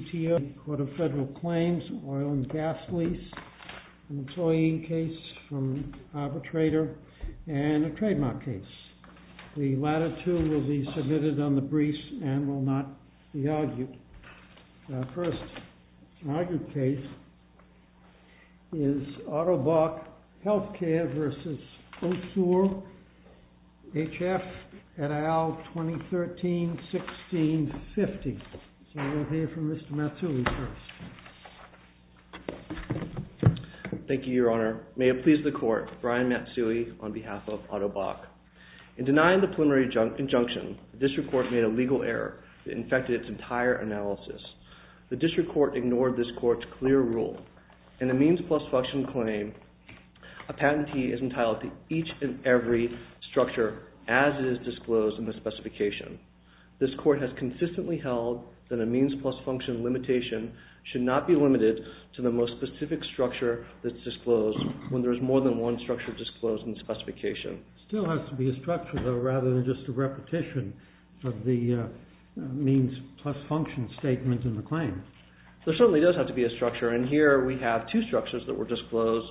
et al. 2013-16-15 Mr. Matsui first. Thank you your honor. May it please the court, Brian Matsui on behalf of Otto Bock. In denying the preliminary injunction, the district court made a legal error that infected its entire analysis. The district court ignored this court's clear rule. In a means plus function claim, a patentee is entitled to each and every structure as it is disclosed in the specification. This court has consistently held that a means plus function limitation should not be limited to the most specific structure that is disclosed when there is more than one structure disclosed in the specification. It still has to be a structure though rather than just a repetition of the means plus function statement in the claim. There certainly does have to be a structure and here we have two structures that were disclosed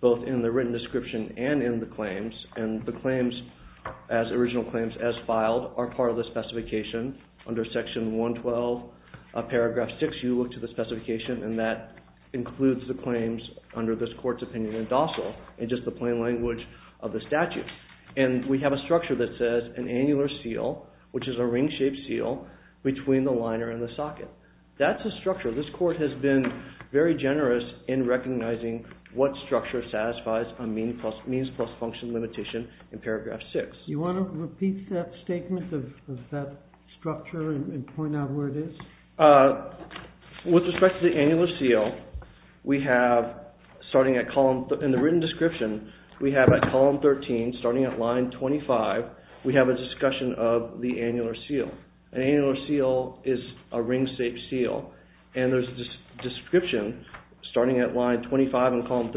both in the written description and in the claims and the claims as original claims as filed are part of the specification under section 112 paragraph 6. And we have a structure that says an annular seal which is a ring shaped seal between the liner and the socket. That's a structure. This court has been very generous in recognizing what structure satisfies a means plus function limitation in paragraph 6. Do you want to repeat that statement of that structure and point out where it is? With respect to the annular seal, we have starting at column, in the written description, we have at column 13 starting at line 25, we have a discussion of the annular seal. An annular seal is a ring shaped seal and there is a description starting at line 25 in column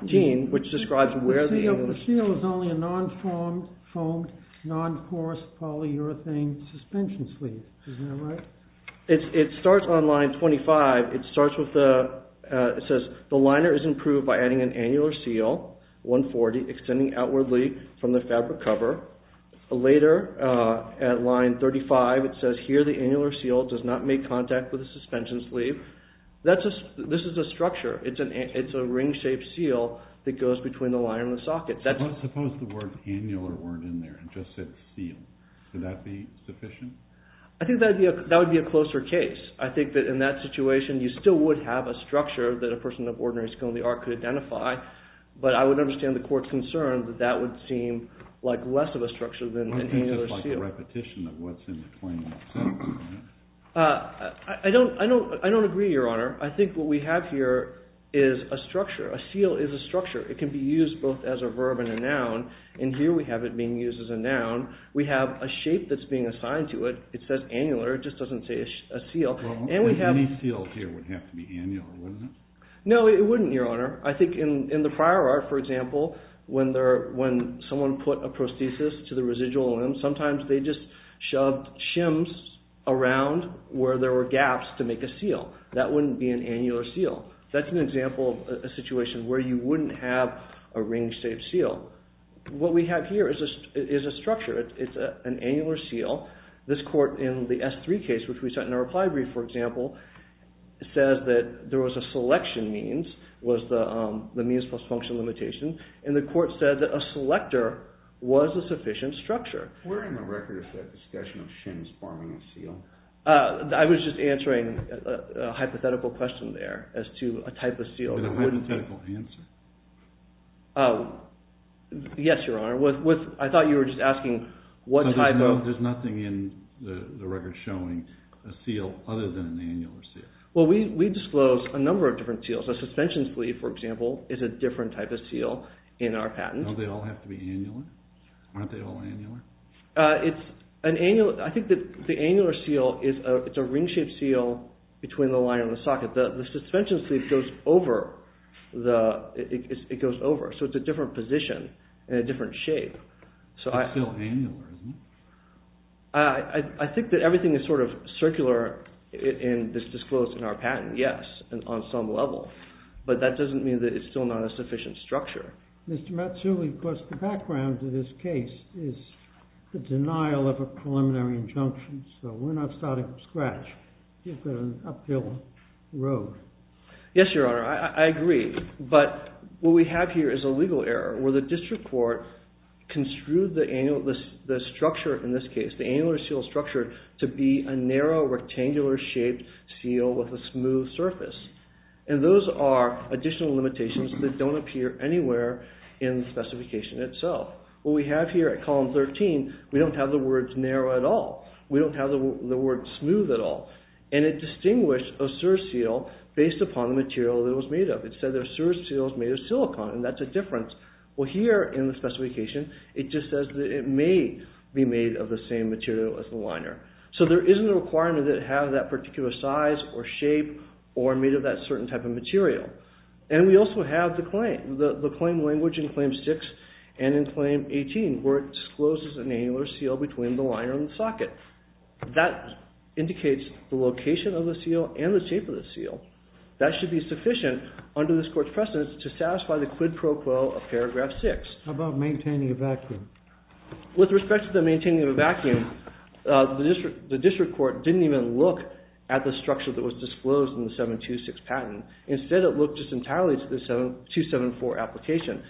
13 which describes where the annular seal is. The seal is only a non-foamed, non-coarse polyurethane suspension sleeve. Isn't that right? It starts on line 25. It says the liner is improved by adding an annular seal 140 extending outwardly from the fabric cover. Later at line 35 it says here the annular seal does not make contact with the suspension sleeve. This is a structure. It's a ring shaped seal that goes between the liner and the socket. Suppose the word annular weren't in there and just said seal. Would that be sufficient? I think that would be a closer case. I think that in that situation you still would have a structure that a person of ordinary skill in the art could identify. But I would understand the court's concern that that would seem like less of a structure than an annular seal. It's just like a repetition of what's in between. I don't agree, Your Honor. I think what we have here is a structure. A seal is a structure. It can be used both as a verb and a noun. And here we have it being used as a noun. We have a shape that's being assigned to it. It says annular. It just doesn't say a seal. Any seal here would have to be annular, wouldn't it? No, it wouldn't, Your Honor. I think in the prior art, for example, when someone put a prosthesis to the residual limb, sometimes they just shoved shims around where there were gaps to make a seal. That wouldn't be an annular seal. That's an example of a situation where you wouldn't have a ring-shaped seal. What we have here is a structure. It's an annular seal. This court in the S3 case, which we sent in a reply brief, for example, says that there was a selection means, was the means plus function limitation. And the court said that a selector was a sufficient structure. Where in the record is that discussion of shims forming a seal? I was just answering a hypothetical question there as to a type of seal. A hypothetical answer? Yes, Your Honor. I thought you were just asking what type of… There's nothing in the record showing a seal other than an annular seal. Well, we disclose a number of different seals. A suspension sleeve, for example, is a different type of seal in our patent. Don't they all have to be annular? Aren't they all annular? I think that the annular seal is a ring-shaped seal between the line and the socket. The suspension sleeve goes over, so it's a different position and a different shape. It's still annular, isn't it? I think that everything is sort of circular in this disclosed in our patent, yes, on some level. But that doesn't mean that it's still not a sufficient structure. Mr. Matsui, of course, the background to this case is the denial of a preliminary injunction. So we're not starting from scratch. You've got an uphill road. Yes, Your Honor. I agree. But what we have here is a legal error where the district court construed the structure in this case, the annular seal structure, to be a narrow rectangular-shaped seal with a smooth surface. And those are additional limitations that don't appear anywhere in the specification itself. What we have here at Column 13, we don't have the words narrow at all. We don't have the word smooth at all. And it distinguished a sur-seal based upon the material that it was made of. It said that a sur-seal is made of silicon, and that's a difference. Well, here in the specification, it just says that it may be made of the same material as the liner. So there isn't a requirement that it have that particular size or shape or made of that certain type of material. And we also have the claim language in Claim 6 and in Claim 18, where it discloses an annular seal between the liner and the socket. That indicates the location of the seal and the shape of the seal. That should be sufficient under this court's precedence to satisfy the quid pro quo of Paragraph 6. How about maintaining a vacuum? With respect to the maintaining of a vacuum, the district court didn't even look at the structure that was disclosed in the 726 patent. Instead, it looked just entirely to the 274 application.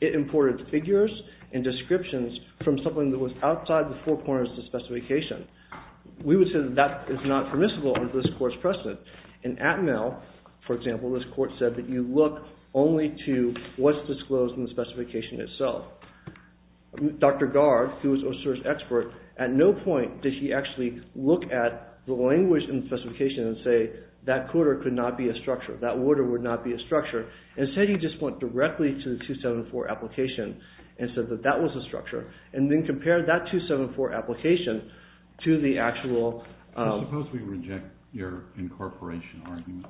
It imported figures and descriptions from something that was outside the four corners of the specification. We would say that that is not permissible under this court's precedent. In Atmel, for example, this court said that you look only to what's disclosed in the specification itself. Dr. Garg, who was OSIR's expert, at no point did he actually look at the language in the specification and say, that quarter could not be a structure, that order would not be a structure. Instead, he just went directly to the 274 application and said that that was a structure. And then compared that 274 application to the actual... Suppose we reject your incorporation argument.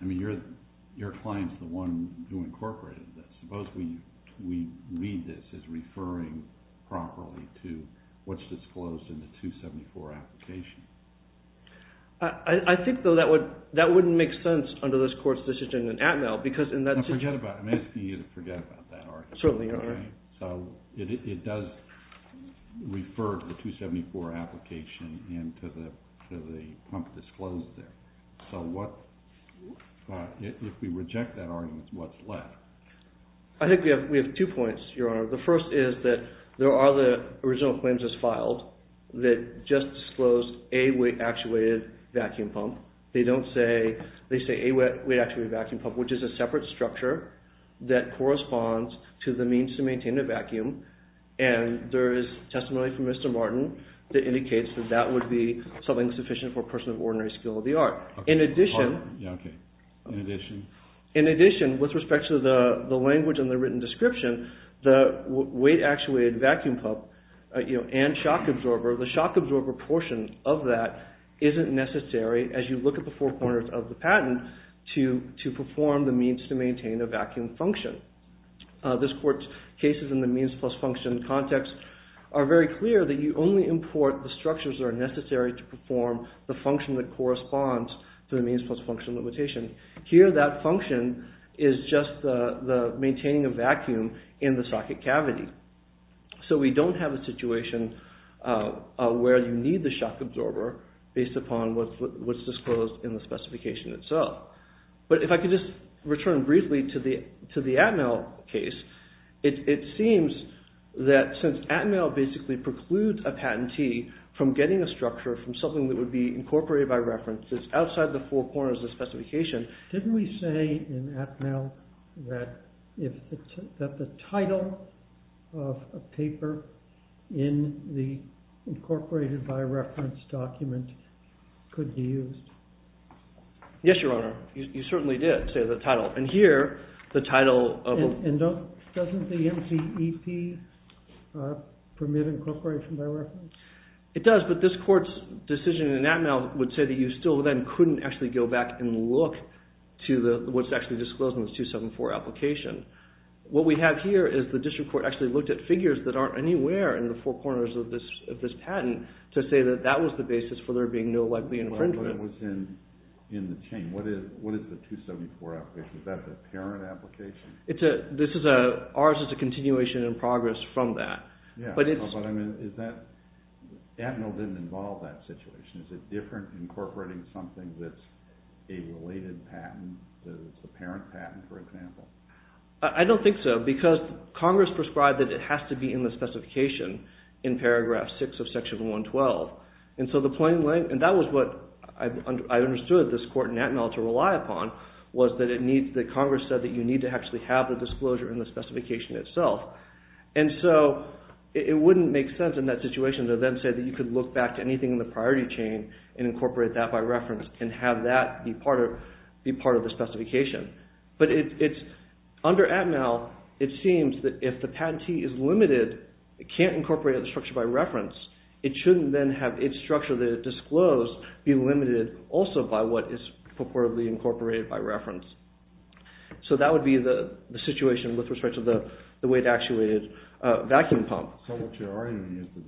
I mean, your client's the one who incorporated this. Suppose we read this as referring properly to what's disclosed in the 274 application. I think, though, that wouldn't make sense under this court's decision in Atmel because... Forget about it. I'm asking you to forget about that argument. Certainly, Your Honor. So, it does refer to the 274 application and to the pump disclosed there. So, if we reject that argument, what's left? I think we have two points, Your Honor. The first is that there are the original claims as filed that just disclosed a weight-actuated vacuum pump. They say a weight-actuated vacuum pump, which is a separate structure that corresponds to the means to maintain a vacuum. And there is testimony from Mr. Martin that indicates that that would be something sufficient for a person of ordinary skill of the art. In addition... In addition? In addition, with respect to the language and the written description, the weight-actuated vacuum pump and shock absorber, the shock absorber portion of that isn't necessary as you look at the four corners of the patent to perform the means to maintain a vacuum function. This court's cases in the means plus function context are very clear that you only import the structures that are necessary to perform the function that corresponds to the means plus function limitation. Here, that function is just the maintaining a vacuum in the socket cavity. So, we don't have a situation where you need the shock absorber based upon what's disclosed in the specification itself. But if I could just return briefly to the Atmel case, it seems that since Atmel basically precludes a patentee from getting a structure from something that would be incorporated by references outside the four corners of the specification... Didn't we say in Atmel that the title of a paper in the incorporated by reference document could be used? Yes, Your Honor. You certainly did say the title. And here, the title of a... Doesn't the NCEP permit incorporation by reference? It does, but this court's decision in Atmel would say that you still then couldn't actually go back and look to what's actually disclosed in the 274 application. What we have here is the district court actually looked at figures that aren't anywhere in the four corners of this patent to say that that was the basis for there being no likely infringement. What was in the chain? What is the 274 application? Is that the parent application? Ours is a continuation in progress from that. Atmel didn't involve that situation. Is it different incorporating something that's a related patent, a parent patent, for example? I don't think so because Congress prescribed that it has to be in the specification in paragraph 6 of section 112. That was what I understood this court in Atmel to rely upon was that Congress said that you need to actually have the disclosure in the specification itself. And so it wouldn't make sense in that situation to then say that you could look back to anything in the priority chain and incorporate that by reference and have that be part of the specification. But under Atmel it seems that if the patentee is limited, can't incorporate the structure by reference, it shouldn't then have its structure that it disclosed be limited also by what is purportedly incorporated by reference. So that would be the situation with respect to the weight actuated vacuum pump. So what you're arguing is that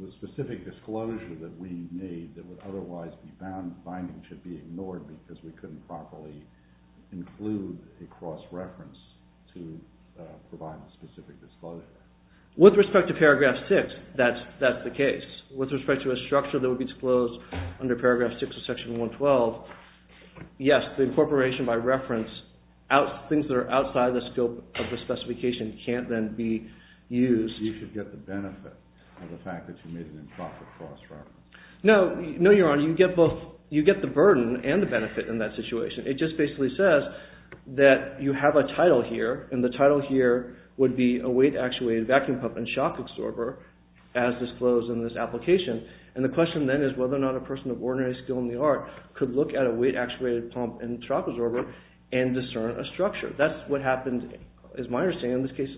the specific disclosure that we made that would otherwise be binding should be ignored because we couldn't properly include a cross-reference to provide the specific disclosure. With respect to paragraph 6, that's the case. With respect to a structure that would be disclosed under paragraph 6 of section 112, yes, the incorporation by reference, things that are outside the scope of the specification can't then be used. You should get the benefit of the fact that you made an improper cross-reference. No, Your Honor. You get the burden and the benefit in that situation. It just basically says that you have a title here, and the title here would be a weight actuated vacuum pump and shock absorber as disclosed in this application. And the question then is whether or not a person of ordinary skill in the art could look at a weight actuated pump and shock absorber and discern a structure. That's what happened, is my understanding, in this case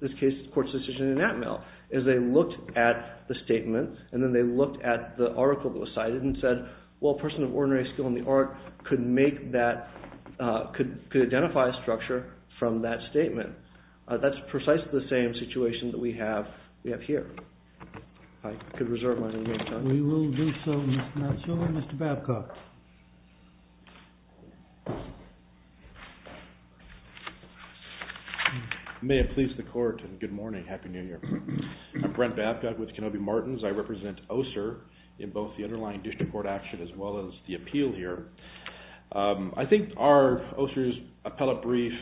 the court's decision in Atmel is they looked at the statement and then they looked at the article that was cited and said, well, a person of ordinary skill in the art could identify a structure from that statement. That's precisely the same situation that we have here. I could reserve my remaining time. We will do so, Mr. Matsuura. Mr. Babcock. May it please the court and good morning, happy new year. I'm Brent Babcock with Kenobi Martins. I represent OSER in both the underlying district court action as well as the appeal here. I think our OSER's appellate brief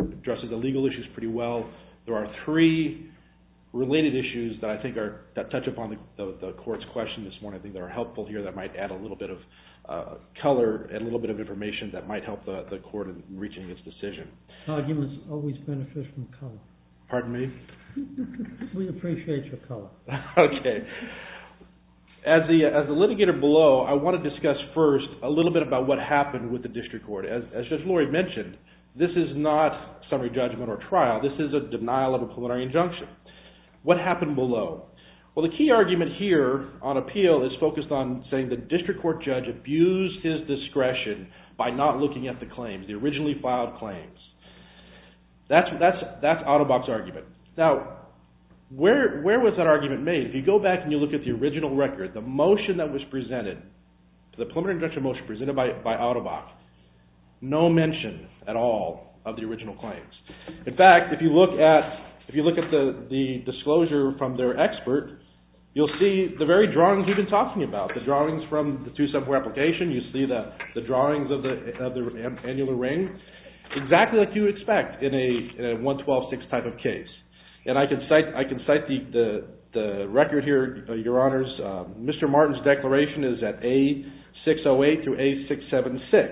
addresses the legal issues pretty well. There are three related issues that I think touch upon the court's question this morning that are helpful here that might add a little bit of color and a little bit of information that might help the court in reaching its decision. Arguments always benefit from color. Pardon me? We appreciate your color. Okay. As the litigator below, I want to discuss first a little bit about what happened with the district court. As Judge Lori mentioned, this is not summary judgment or trial. This is a denial of a plenary injunction. What happened below? Well, the key argument here on appeal is focused on saying the district court judge abused his discretion by not looking at the claims, the originally filed claims. That's Autobach's argument. Now, where was that argument made? If you go back and you look at the original record, the motion that was presented, the preliminary injunction motion presented by Autobach, no mention at all of the original claims. In fact, if you look at the disclosure from their expert, you'll see the very drawings we've been talking about, the drawings from the two-subject application. You see the drawings of the annular ring, exactly like you would expect in a 112-6 type of case. And I can cite the record here, Your Honors. Mr. Martin's declaration is at A608 through A676.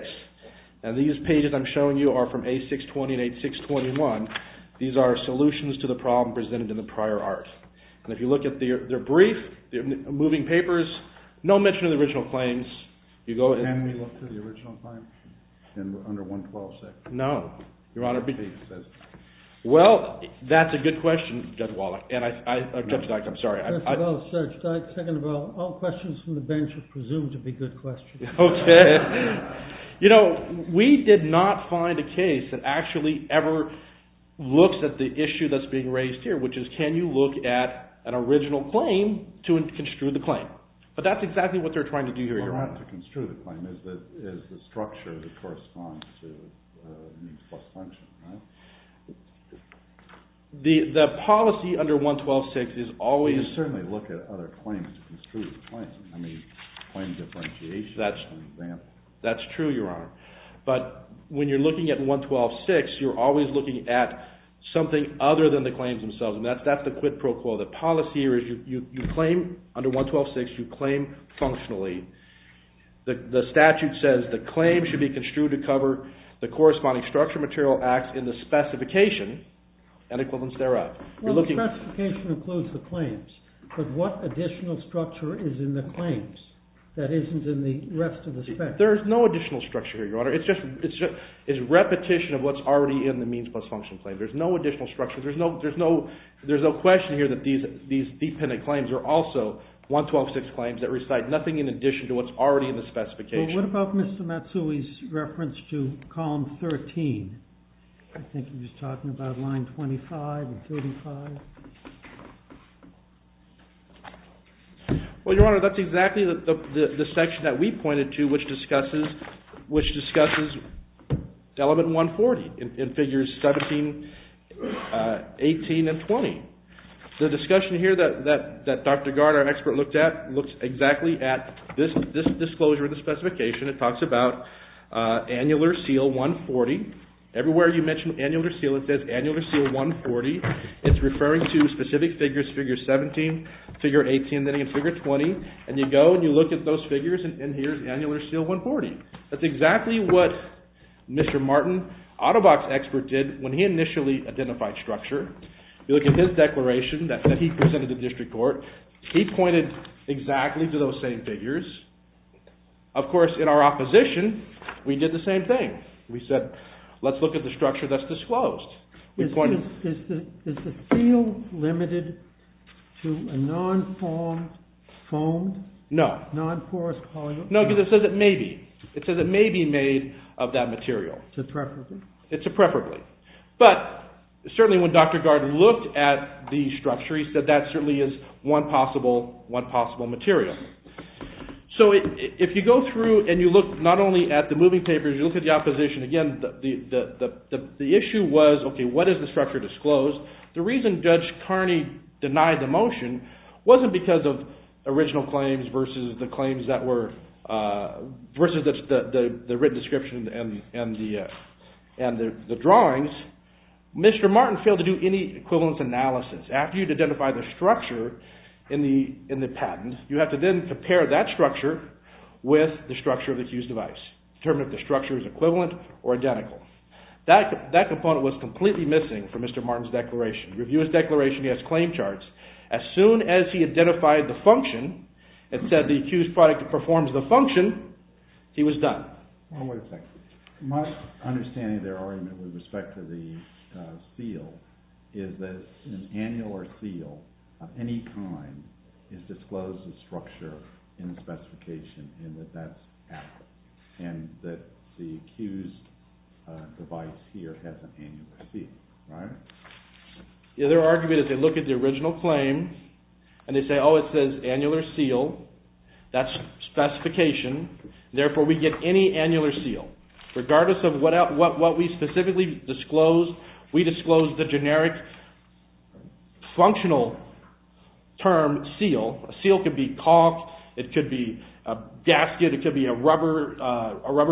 And these pages I'm showing you are from A620 and A621. These are solutions to the problem presented in the prior art. And if you look at their brief, their moving papers, no mention of the original claims. Can we look to the original claims under 112-6? No. Well, that's a good question, Judge Wallach. Judge Dyke, I'm sorry. First of all, Judge Dyke, second of all, all questions from the bench are presumed to be good questions. Okay. You know, we did not find a case that actually ever looks at the issue that's being raised here, which is can you look at an original claim to construe the claim. But that's exactly what they're trying to do here, Your Honor. Well, not to construe the claim. It's the structure that corresponds to means plus function, right? The policy under 112-6 is always— You can certainly look at other claims to construe the claim. I mean, claim differentiation. That's true, Your Honor. But when you're looking at 112-6, you're always looking at something other than the claims themselves, and that's the quid pro quo. The policy here is you claim under 112-6, you claim functionally. The statute says the claim should be construed to cover the corresponding structure, material, acts in the specification and equivalents thereof. Well, the specification includes the claims, but what additional structure is in the claims that isn't in the rest of the spec? There is no additional structure here, Your Honor. It's repetition of what's already in the means plus function claim. There's no additional structure. There's no question here that these dependent claims are also 112-6 claims that recite nothing in addition to what's already in the specification. Well, what about Mr. Matsui's reference to column 13? I think he was talking about line 25 and 35. Well, Your Honor, that's exactly the section that we pointed to, which discusses element 140 in figures 17, 18, and 20. The discussion here that Dr. Gard, our expert, looked at, looks exactly at this disclosure of the specification. It talks about annular seal 140. Everywhere you mention annular seal, it says annular seal 140. It's referring to specific figures, figure 17, figure 18, and figure 20. And you go and you look at those figures, and here's annular seal 140. That's exactly what Mr. Martin, auto box expert, did when he initially identified structure. You look at his declaration that he presented to district court. He pointed exactly to those same figures. Of course, in our opposition, we did the same thing. We said, let's look at the structure that's disclosed. Is the seal limited to a non-formed, foamed, non-porous polymer? No, because it says it may be. It says it may be made of that material. It's a preferably? It's a preferably. But certainly when Dr. Gard looked at the structure, he said that certainly is one possible material. So if you go through and you look not only at the moving papers, you look at the opposition, again, the issue was, okay, what is the structure disclosed? The reason Judge Carney denied the motion wasn't because of original claims versus the written description and the drawings. Mr. Martin failed to do any equivalence analysis. After you identify the structure in the patent, you have to then compare that structure with the structure of the accused device, determine if the structure is equivalent or identical. That component was completely missing from Mr. Martin's declaration. Review his declaration, he has claim charts. As soon as he identified the function, it said the accused product performs the function, he was done. One more second. My understanding of their argument with respect to the seal is that an annular seal of any kind is disclosed as structure in the specification and that that's accurate and that the accused device here has an annular seal. Their argument is they look at the original claim and they say, oh, it says annular seal, that's specification, therefore we get any annular seal. Regardless of what we specifically disclose, we disclose the generic functional term seal. A seal could be caulk, it could be a gasket, it could be a rubber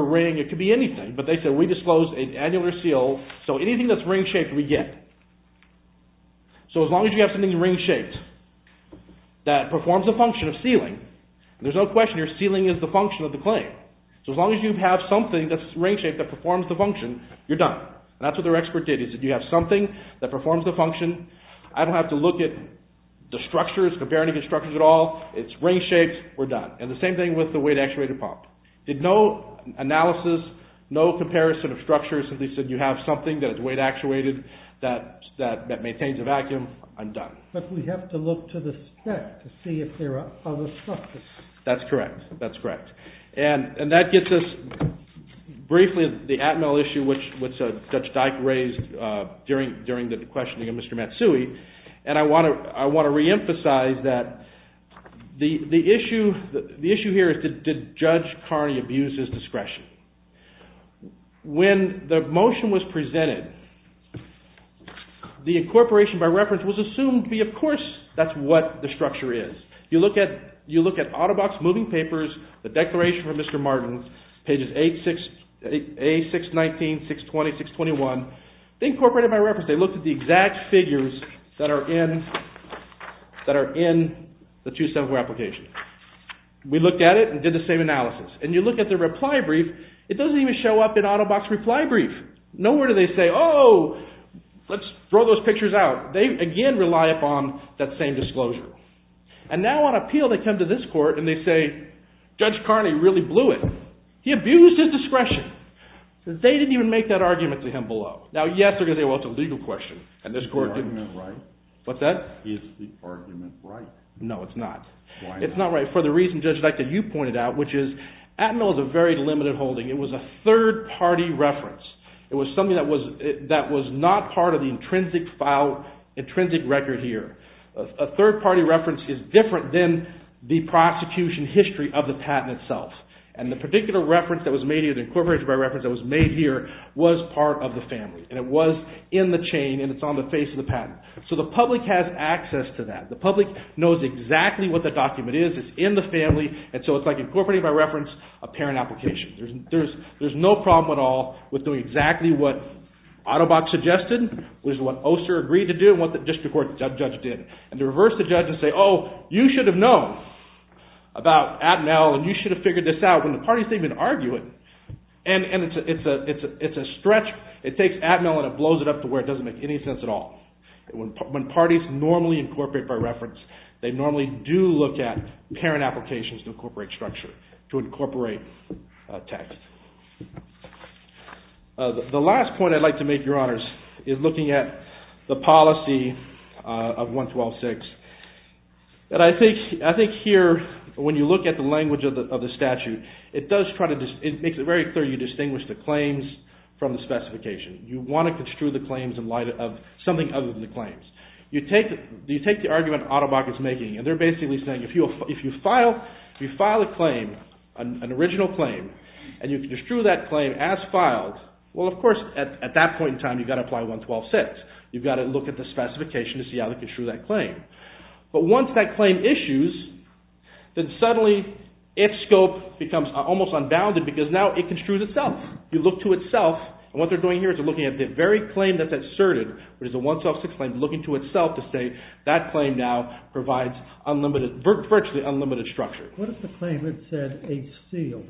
ring, it could be anything. But they said we disclose an annular seal, so anything that's ring-shaped we get. So as long as you have something ring-shaped that performs the function of sealing, there's no question your sealing is the function of the claim. So as long as you have something that's ring-shaped that performs the function, you're done. That's what their expert did. He said you have something that performs the function. I don't have to look at the structures, compare any of the structures at all. It's ring-shaped, we're done. And the same thing with the weight-actuated pump. Did no analysis, no comparison of structures. They said you have something that is weight-actuated that maintains a vacuum, I'm done. But we have to look to the spec to see if there are other structures. That's correct. That's correct. And that gets us briefly to the Atmel issue, which Judge Dyke raised during the questioning of Mr. Matsui. And I want to reemphasize that the issue here is did Judge Carney abuse his discretion? When the motion was presented, the incorporation by reference was assumed to be, of course, that's what the structure is. You look at out-of-box moving papers, the declaration from Mr. Martins, pages 8, 6, 19, 620, 621. They incorporated by reference, they looked at the exact figures that are in the 2-7-4 application. We looked at it and did the same analysis. And you look at the reply brief, it doesn't even show up in out-of-box reply brief. Nowhere do they say, oh, let's throw those pictures out. They, again, rely upon that same disclosure. And now on appeal they come to this court and they say, Judge Carney really blew it. He abused his discretion. They didn't even make that argument to him below. Now, yes, they're going to say, well, it's a legal question, and this court didn't. Is the argument right? What's that? Is the argument right? No, it's not. Why not? It's not right for the reason, Judge Dyke, that you pointed out, which is Atmel is a very limited holding. It was a third-party reference. It was something that was not part of the intrinsic file, intrinsic record here. A third-party reference is different than the prosecution history of the patent itself. And the particular reference that was made here, the incorporated by reference that was made here, was part of the family. And it was in the chain and it's on the face of the patent. So the public has access to that. The public knows exactly what the document is. It's in the family. And so it's like incorporated by reference, a parent application. There's no problem at all with doing exactly what Ottobock suggested, which is what Oster agreed to do, exactly what the district court judge did, and to reverse the judge and say, oh, you should have known about Atmel and you should have figured this out when the parties didn't even argue it. And it's a stretch. It takes Atmel and it blows it up to where it doesn't make any sense at all. When parties normally incorporate by reference, they normally do look at parent applications to incorporate structure, to incorporate text. The last point I'd like to make, Your Honors, is looking at the policy of 112.6. And I think here, when you look at the language of the statute, it makes it very clear you distinguish the claims from the specification. You want to construe the claims in light of something other than the claims. You take the argument Ottobock is making, and they're basically saying if you file a claim, an original claim, and you construe that claim as filed, well, of course, at that point in time, you've got to apply 112.6. You've got to look at the specification to see how to construe that claim. But once that claim issues, then suddenly its scope becomes almost unbounded because now it construes itself. You look to itself, and what they're doing here is they're looking at the very claim that's asserted, which is the 112.6 claim, looking to itself to say that claim now provides virtually unlimited structure. What if the claim had said a seal?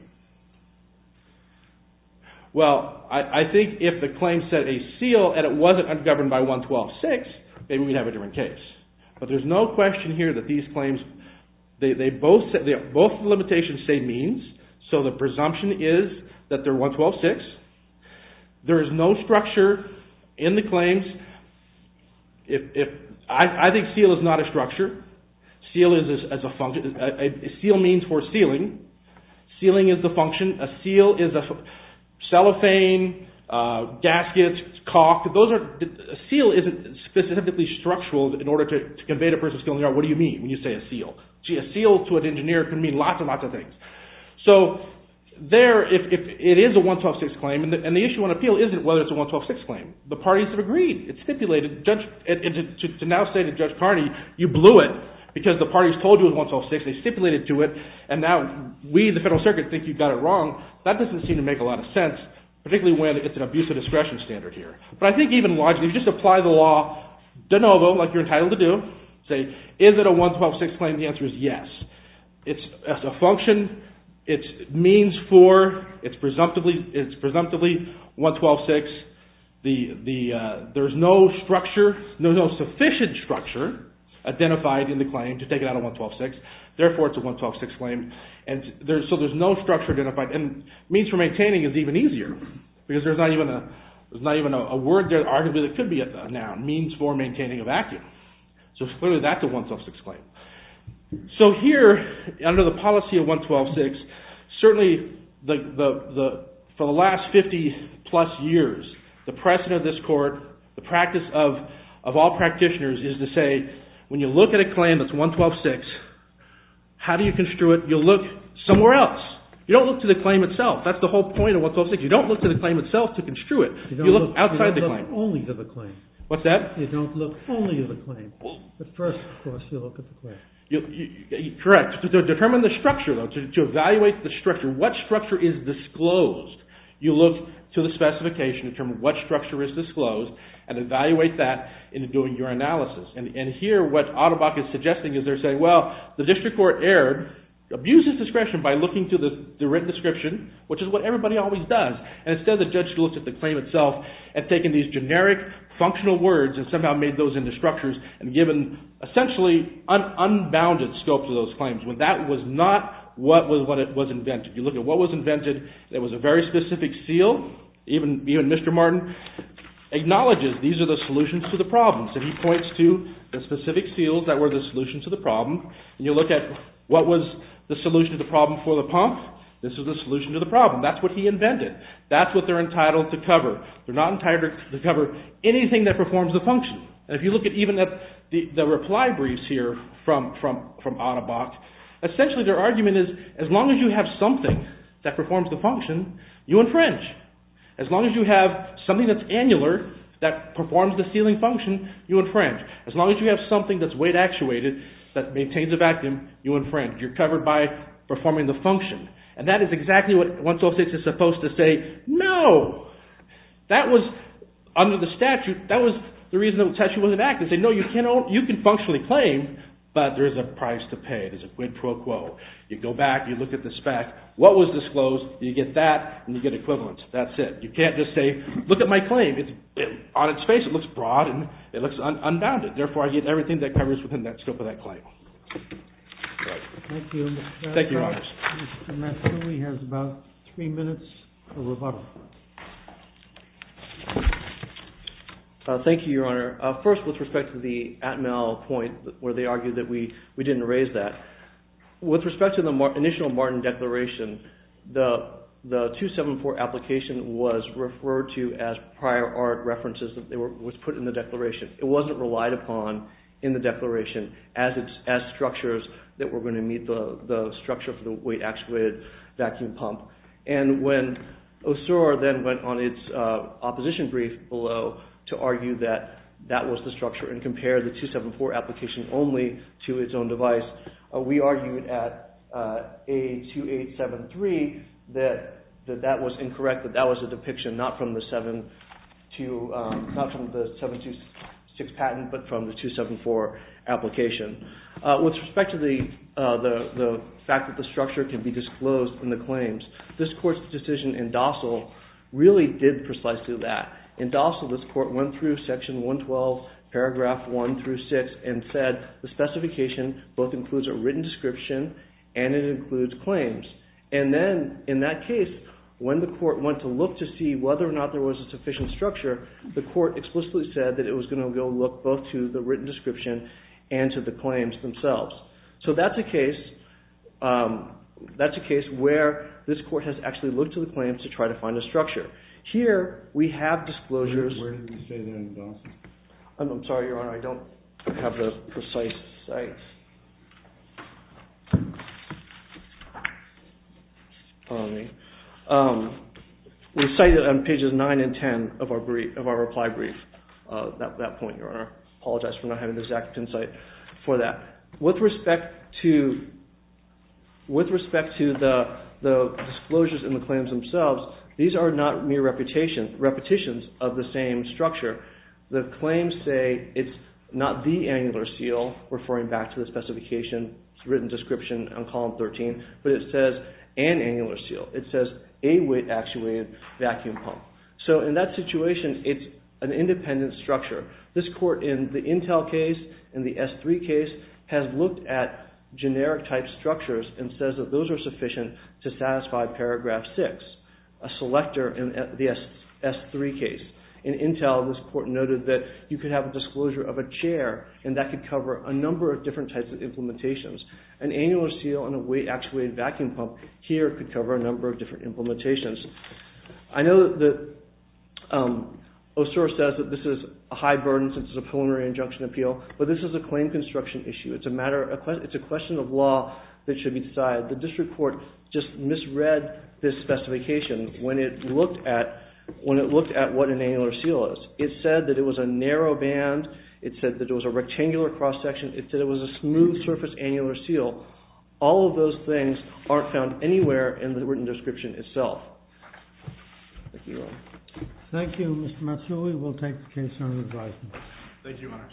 Well, I think if the claim said a seal, and it wasn't governed by 112.6, maybe we'd have a different case. But there's no question here that these claims, both the limitations say means, so the presumption is that they're 112.6. There is no structure in the claims. I think seal is not a structure. A seal means for sealing. Sealing is a function. A seal is a cellophane, gasket, caulk. A seal isn't specifically structural in order to convey the person's feeling. What do you mean when you say a seal? A seal to an engineer can mean lots and lots of things. So there, it is a 112.6 claim, and the issue on appeal isn't whether it's a 112.6 claim. The parties have agreed. It's stipulated. To now say to Judge Carney, you blew it because the parties told you it was 112.6. They stipulated to it, and now we in the Federal Circuit think you got it wrong. That doesn't seem to make a lot of sense, particularly when it's an abuse of discretion standard here. But I think even larger, if you just apply the law de novo like you're entitled to do, say is it a 112.6 claim, the answer is yes. It's a function. It's means for. It's presumptively 112.6. There's no sufficient structure identified in the claim to take it out of 112.6. Therefore, it's a 112.6 claim. So there's no structure identified. And means for maintaining is even easier because there's not even a word there arguably that could be a noun. Means for maintaining a vacuum. So clearly that's a 112.6 claim. So here, under the policy of 112.6, certainly for the last 50 plus years, the precedent of this court, the practice of all practitioners is to say when you look at a claim that's 112.6, how do you construe it? You look somewhere else. You don't look to the claim itself. That's the whole point of 112.6. You don't look to the claim itself to construe it. You look outside the claim. What's that? Correct. To determine the structure, to evaluate the structure, what structure is disclosed? You look to the specification to determine what structure is disclosed and evaluate that in doing your analysis. And here, what Ottobock is suggesting is they're saying, well, the district court erred, abuses discretion by looking to the written description, which is what everybody always does. And instead, the judge looks at the claim itself and taking these generic, functional words and somehow made those into structures and given essentially unbounded scope to those claims. That was not what was invented. You look at what was invented. It was a very specific seal. Even Mr. Martin acknowledges these are the solutions to the problem. So he points to the specific seals that were the solution to the problem. And you look at what was the solution to the problem for the pump. This was the solution to the problem. That's what he invented. That's what they're entitled to cover. They're not entitled to cover anything that performs the function. And if you look at even the reply briefs here from Ottobock, essentially their argument is as long as you have something that performs the function, you infringe. As long as you have something that's annular that performs the sealing function, you infringe. As long as you have something that's weight-actuated that maintains a vacuum, you infringe. You're covered by performing the function. And that is exactly what one's supposed to say, no. That was under the statute, that was the reason the statute wasn't active. They say, no, you can functionally claim, but there's a price to pay. There's a quid pro quo. You go back, you look at the spec. What was disclosed, you get that, and you get equivalent. That's it. You can't just say, look at my claim. On its face it looks broad and it looks unbounded. Therefore, I give everything that covers within that scope of that claim. Thank you. Thank you, Your Honor. Mr. Matsui has about three minutes for rebuttal. Thank you, Your Honor. First, with respect to the Atmel point where they argued that we didn't raise that. With respect to the initial Martin Declaration, the 274 application was referred to as prior art references. It was put in the Declaration. It wasn't relied upon in the Declaration as structures that were going to meet the structure for the weight-actuated vacuum pump. And when OSUR then went on its opposition brief below to argue that that was the structure and compared the 274 application only to its own device, we argued at A2873 that that was incorrect, that that was a depiction not from the 726 patent but from the 274 application. With respect to the fact that the structure can be disclosed in the claims, this Court's decision in Dossal really did precisely that. In Dossal, this Court went through section 112, paragraph 1 through 6 and said the specification both includes a written description and it includes claims. And then in that case, when the Court went to look to see whether or not there was a sufficient structure, the Court explicitly said that it was going to go look both to the written description and to the claims themselves. So that's a case where this Court has actually looked to the claims to try to find a structure. Here we have disclosures. Where did you say they're in Dossal? I'm sorry, Your Honor. I don't have the precise site. We cite it on pages 9 and 10 of our reply brief. At that point, Your Honor, I apologize for not having the exact insight for that. With respect to the disclosures in the claims themselves, these are not mere repetitions of the same structure. The claims say it's not the annular seal, referring back to the specification, written description on column 13, but it says an annular seal. It says a weight-actuated vacuum pump. So in that situation, it's an independent structure. This Court in the Intel case and the S3 case has looked at generic-type structures and says that those are sufficient to satisfy paragraph 6, a selector in the S3 case. In Intel, this Court noted that you could have a disclosure of a chair and that could cover a number of different types of implementations. An annular seal and a weight-actuated vacuum pump here could cover a number of different implementations. I know that Osura says that this is a high burden since it's a preliminary injunction appeal, but this is a claim construction issue. It's a question of law that should be decided. The District Court just misread this specification when it looked at what an annular seal is. It said that it was a narrow band. It said that it was a rectangular cross-section. It said it was a smooth-surface annular seal. All of those things aren't found anywhere in the written description itself. Thank you, Your Honor. Thank you, Mr. Matsui. Thank you, Your Honor.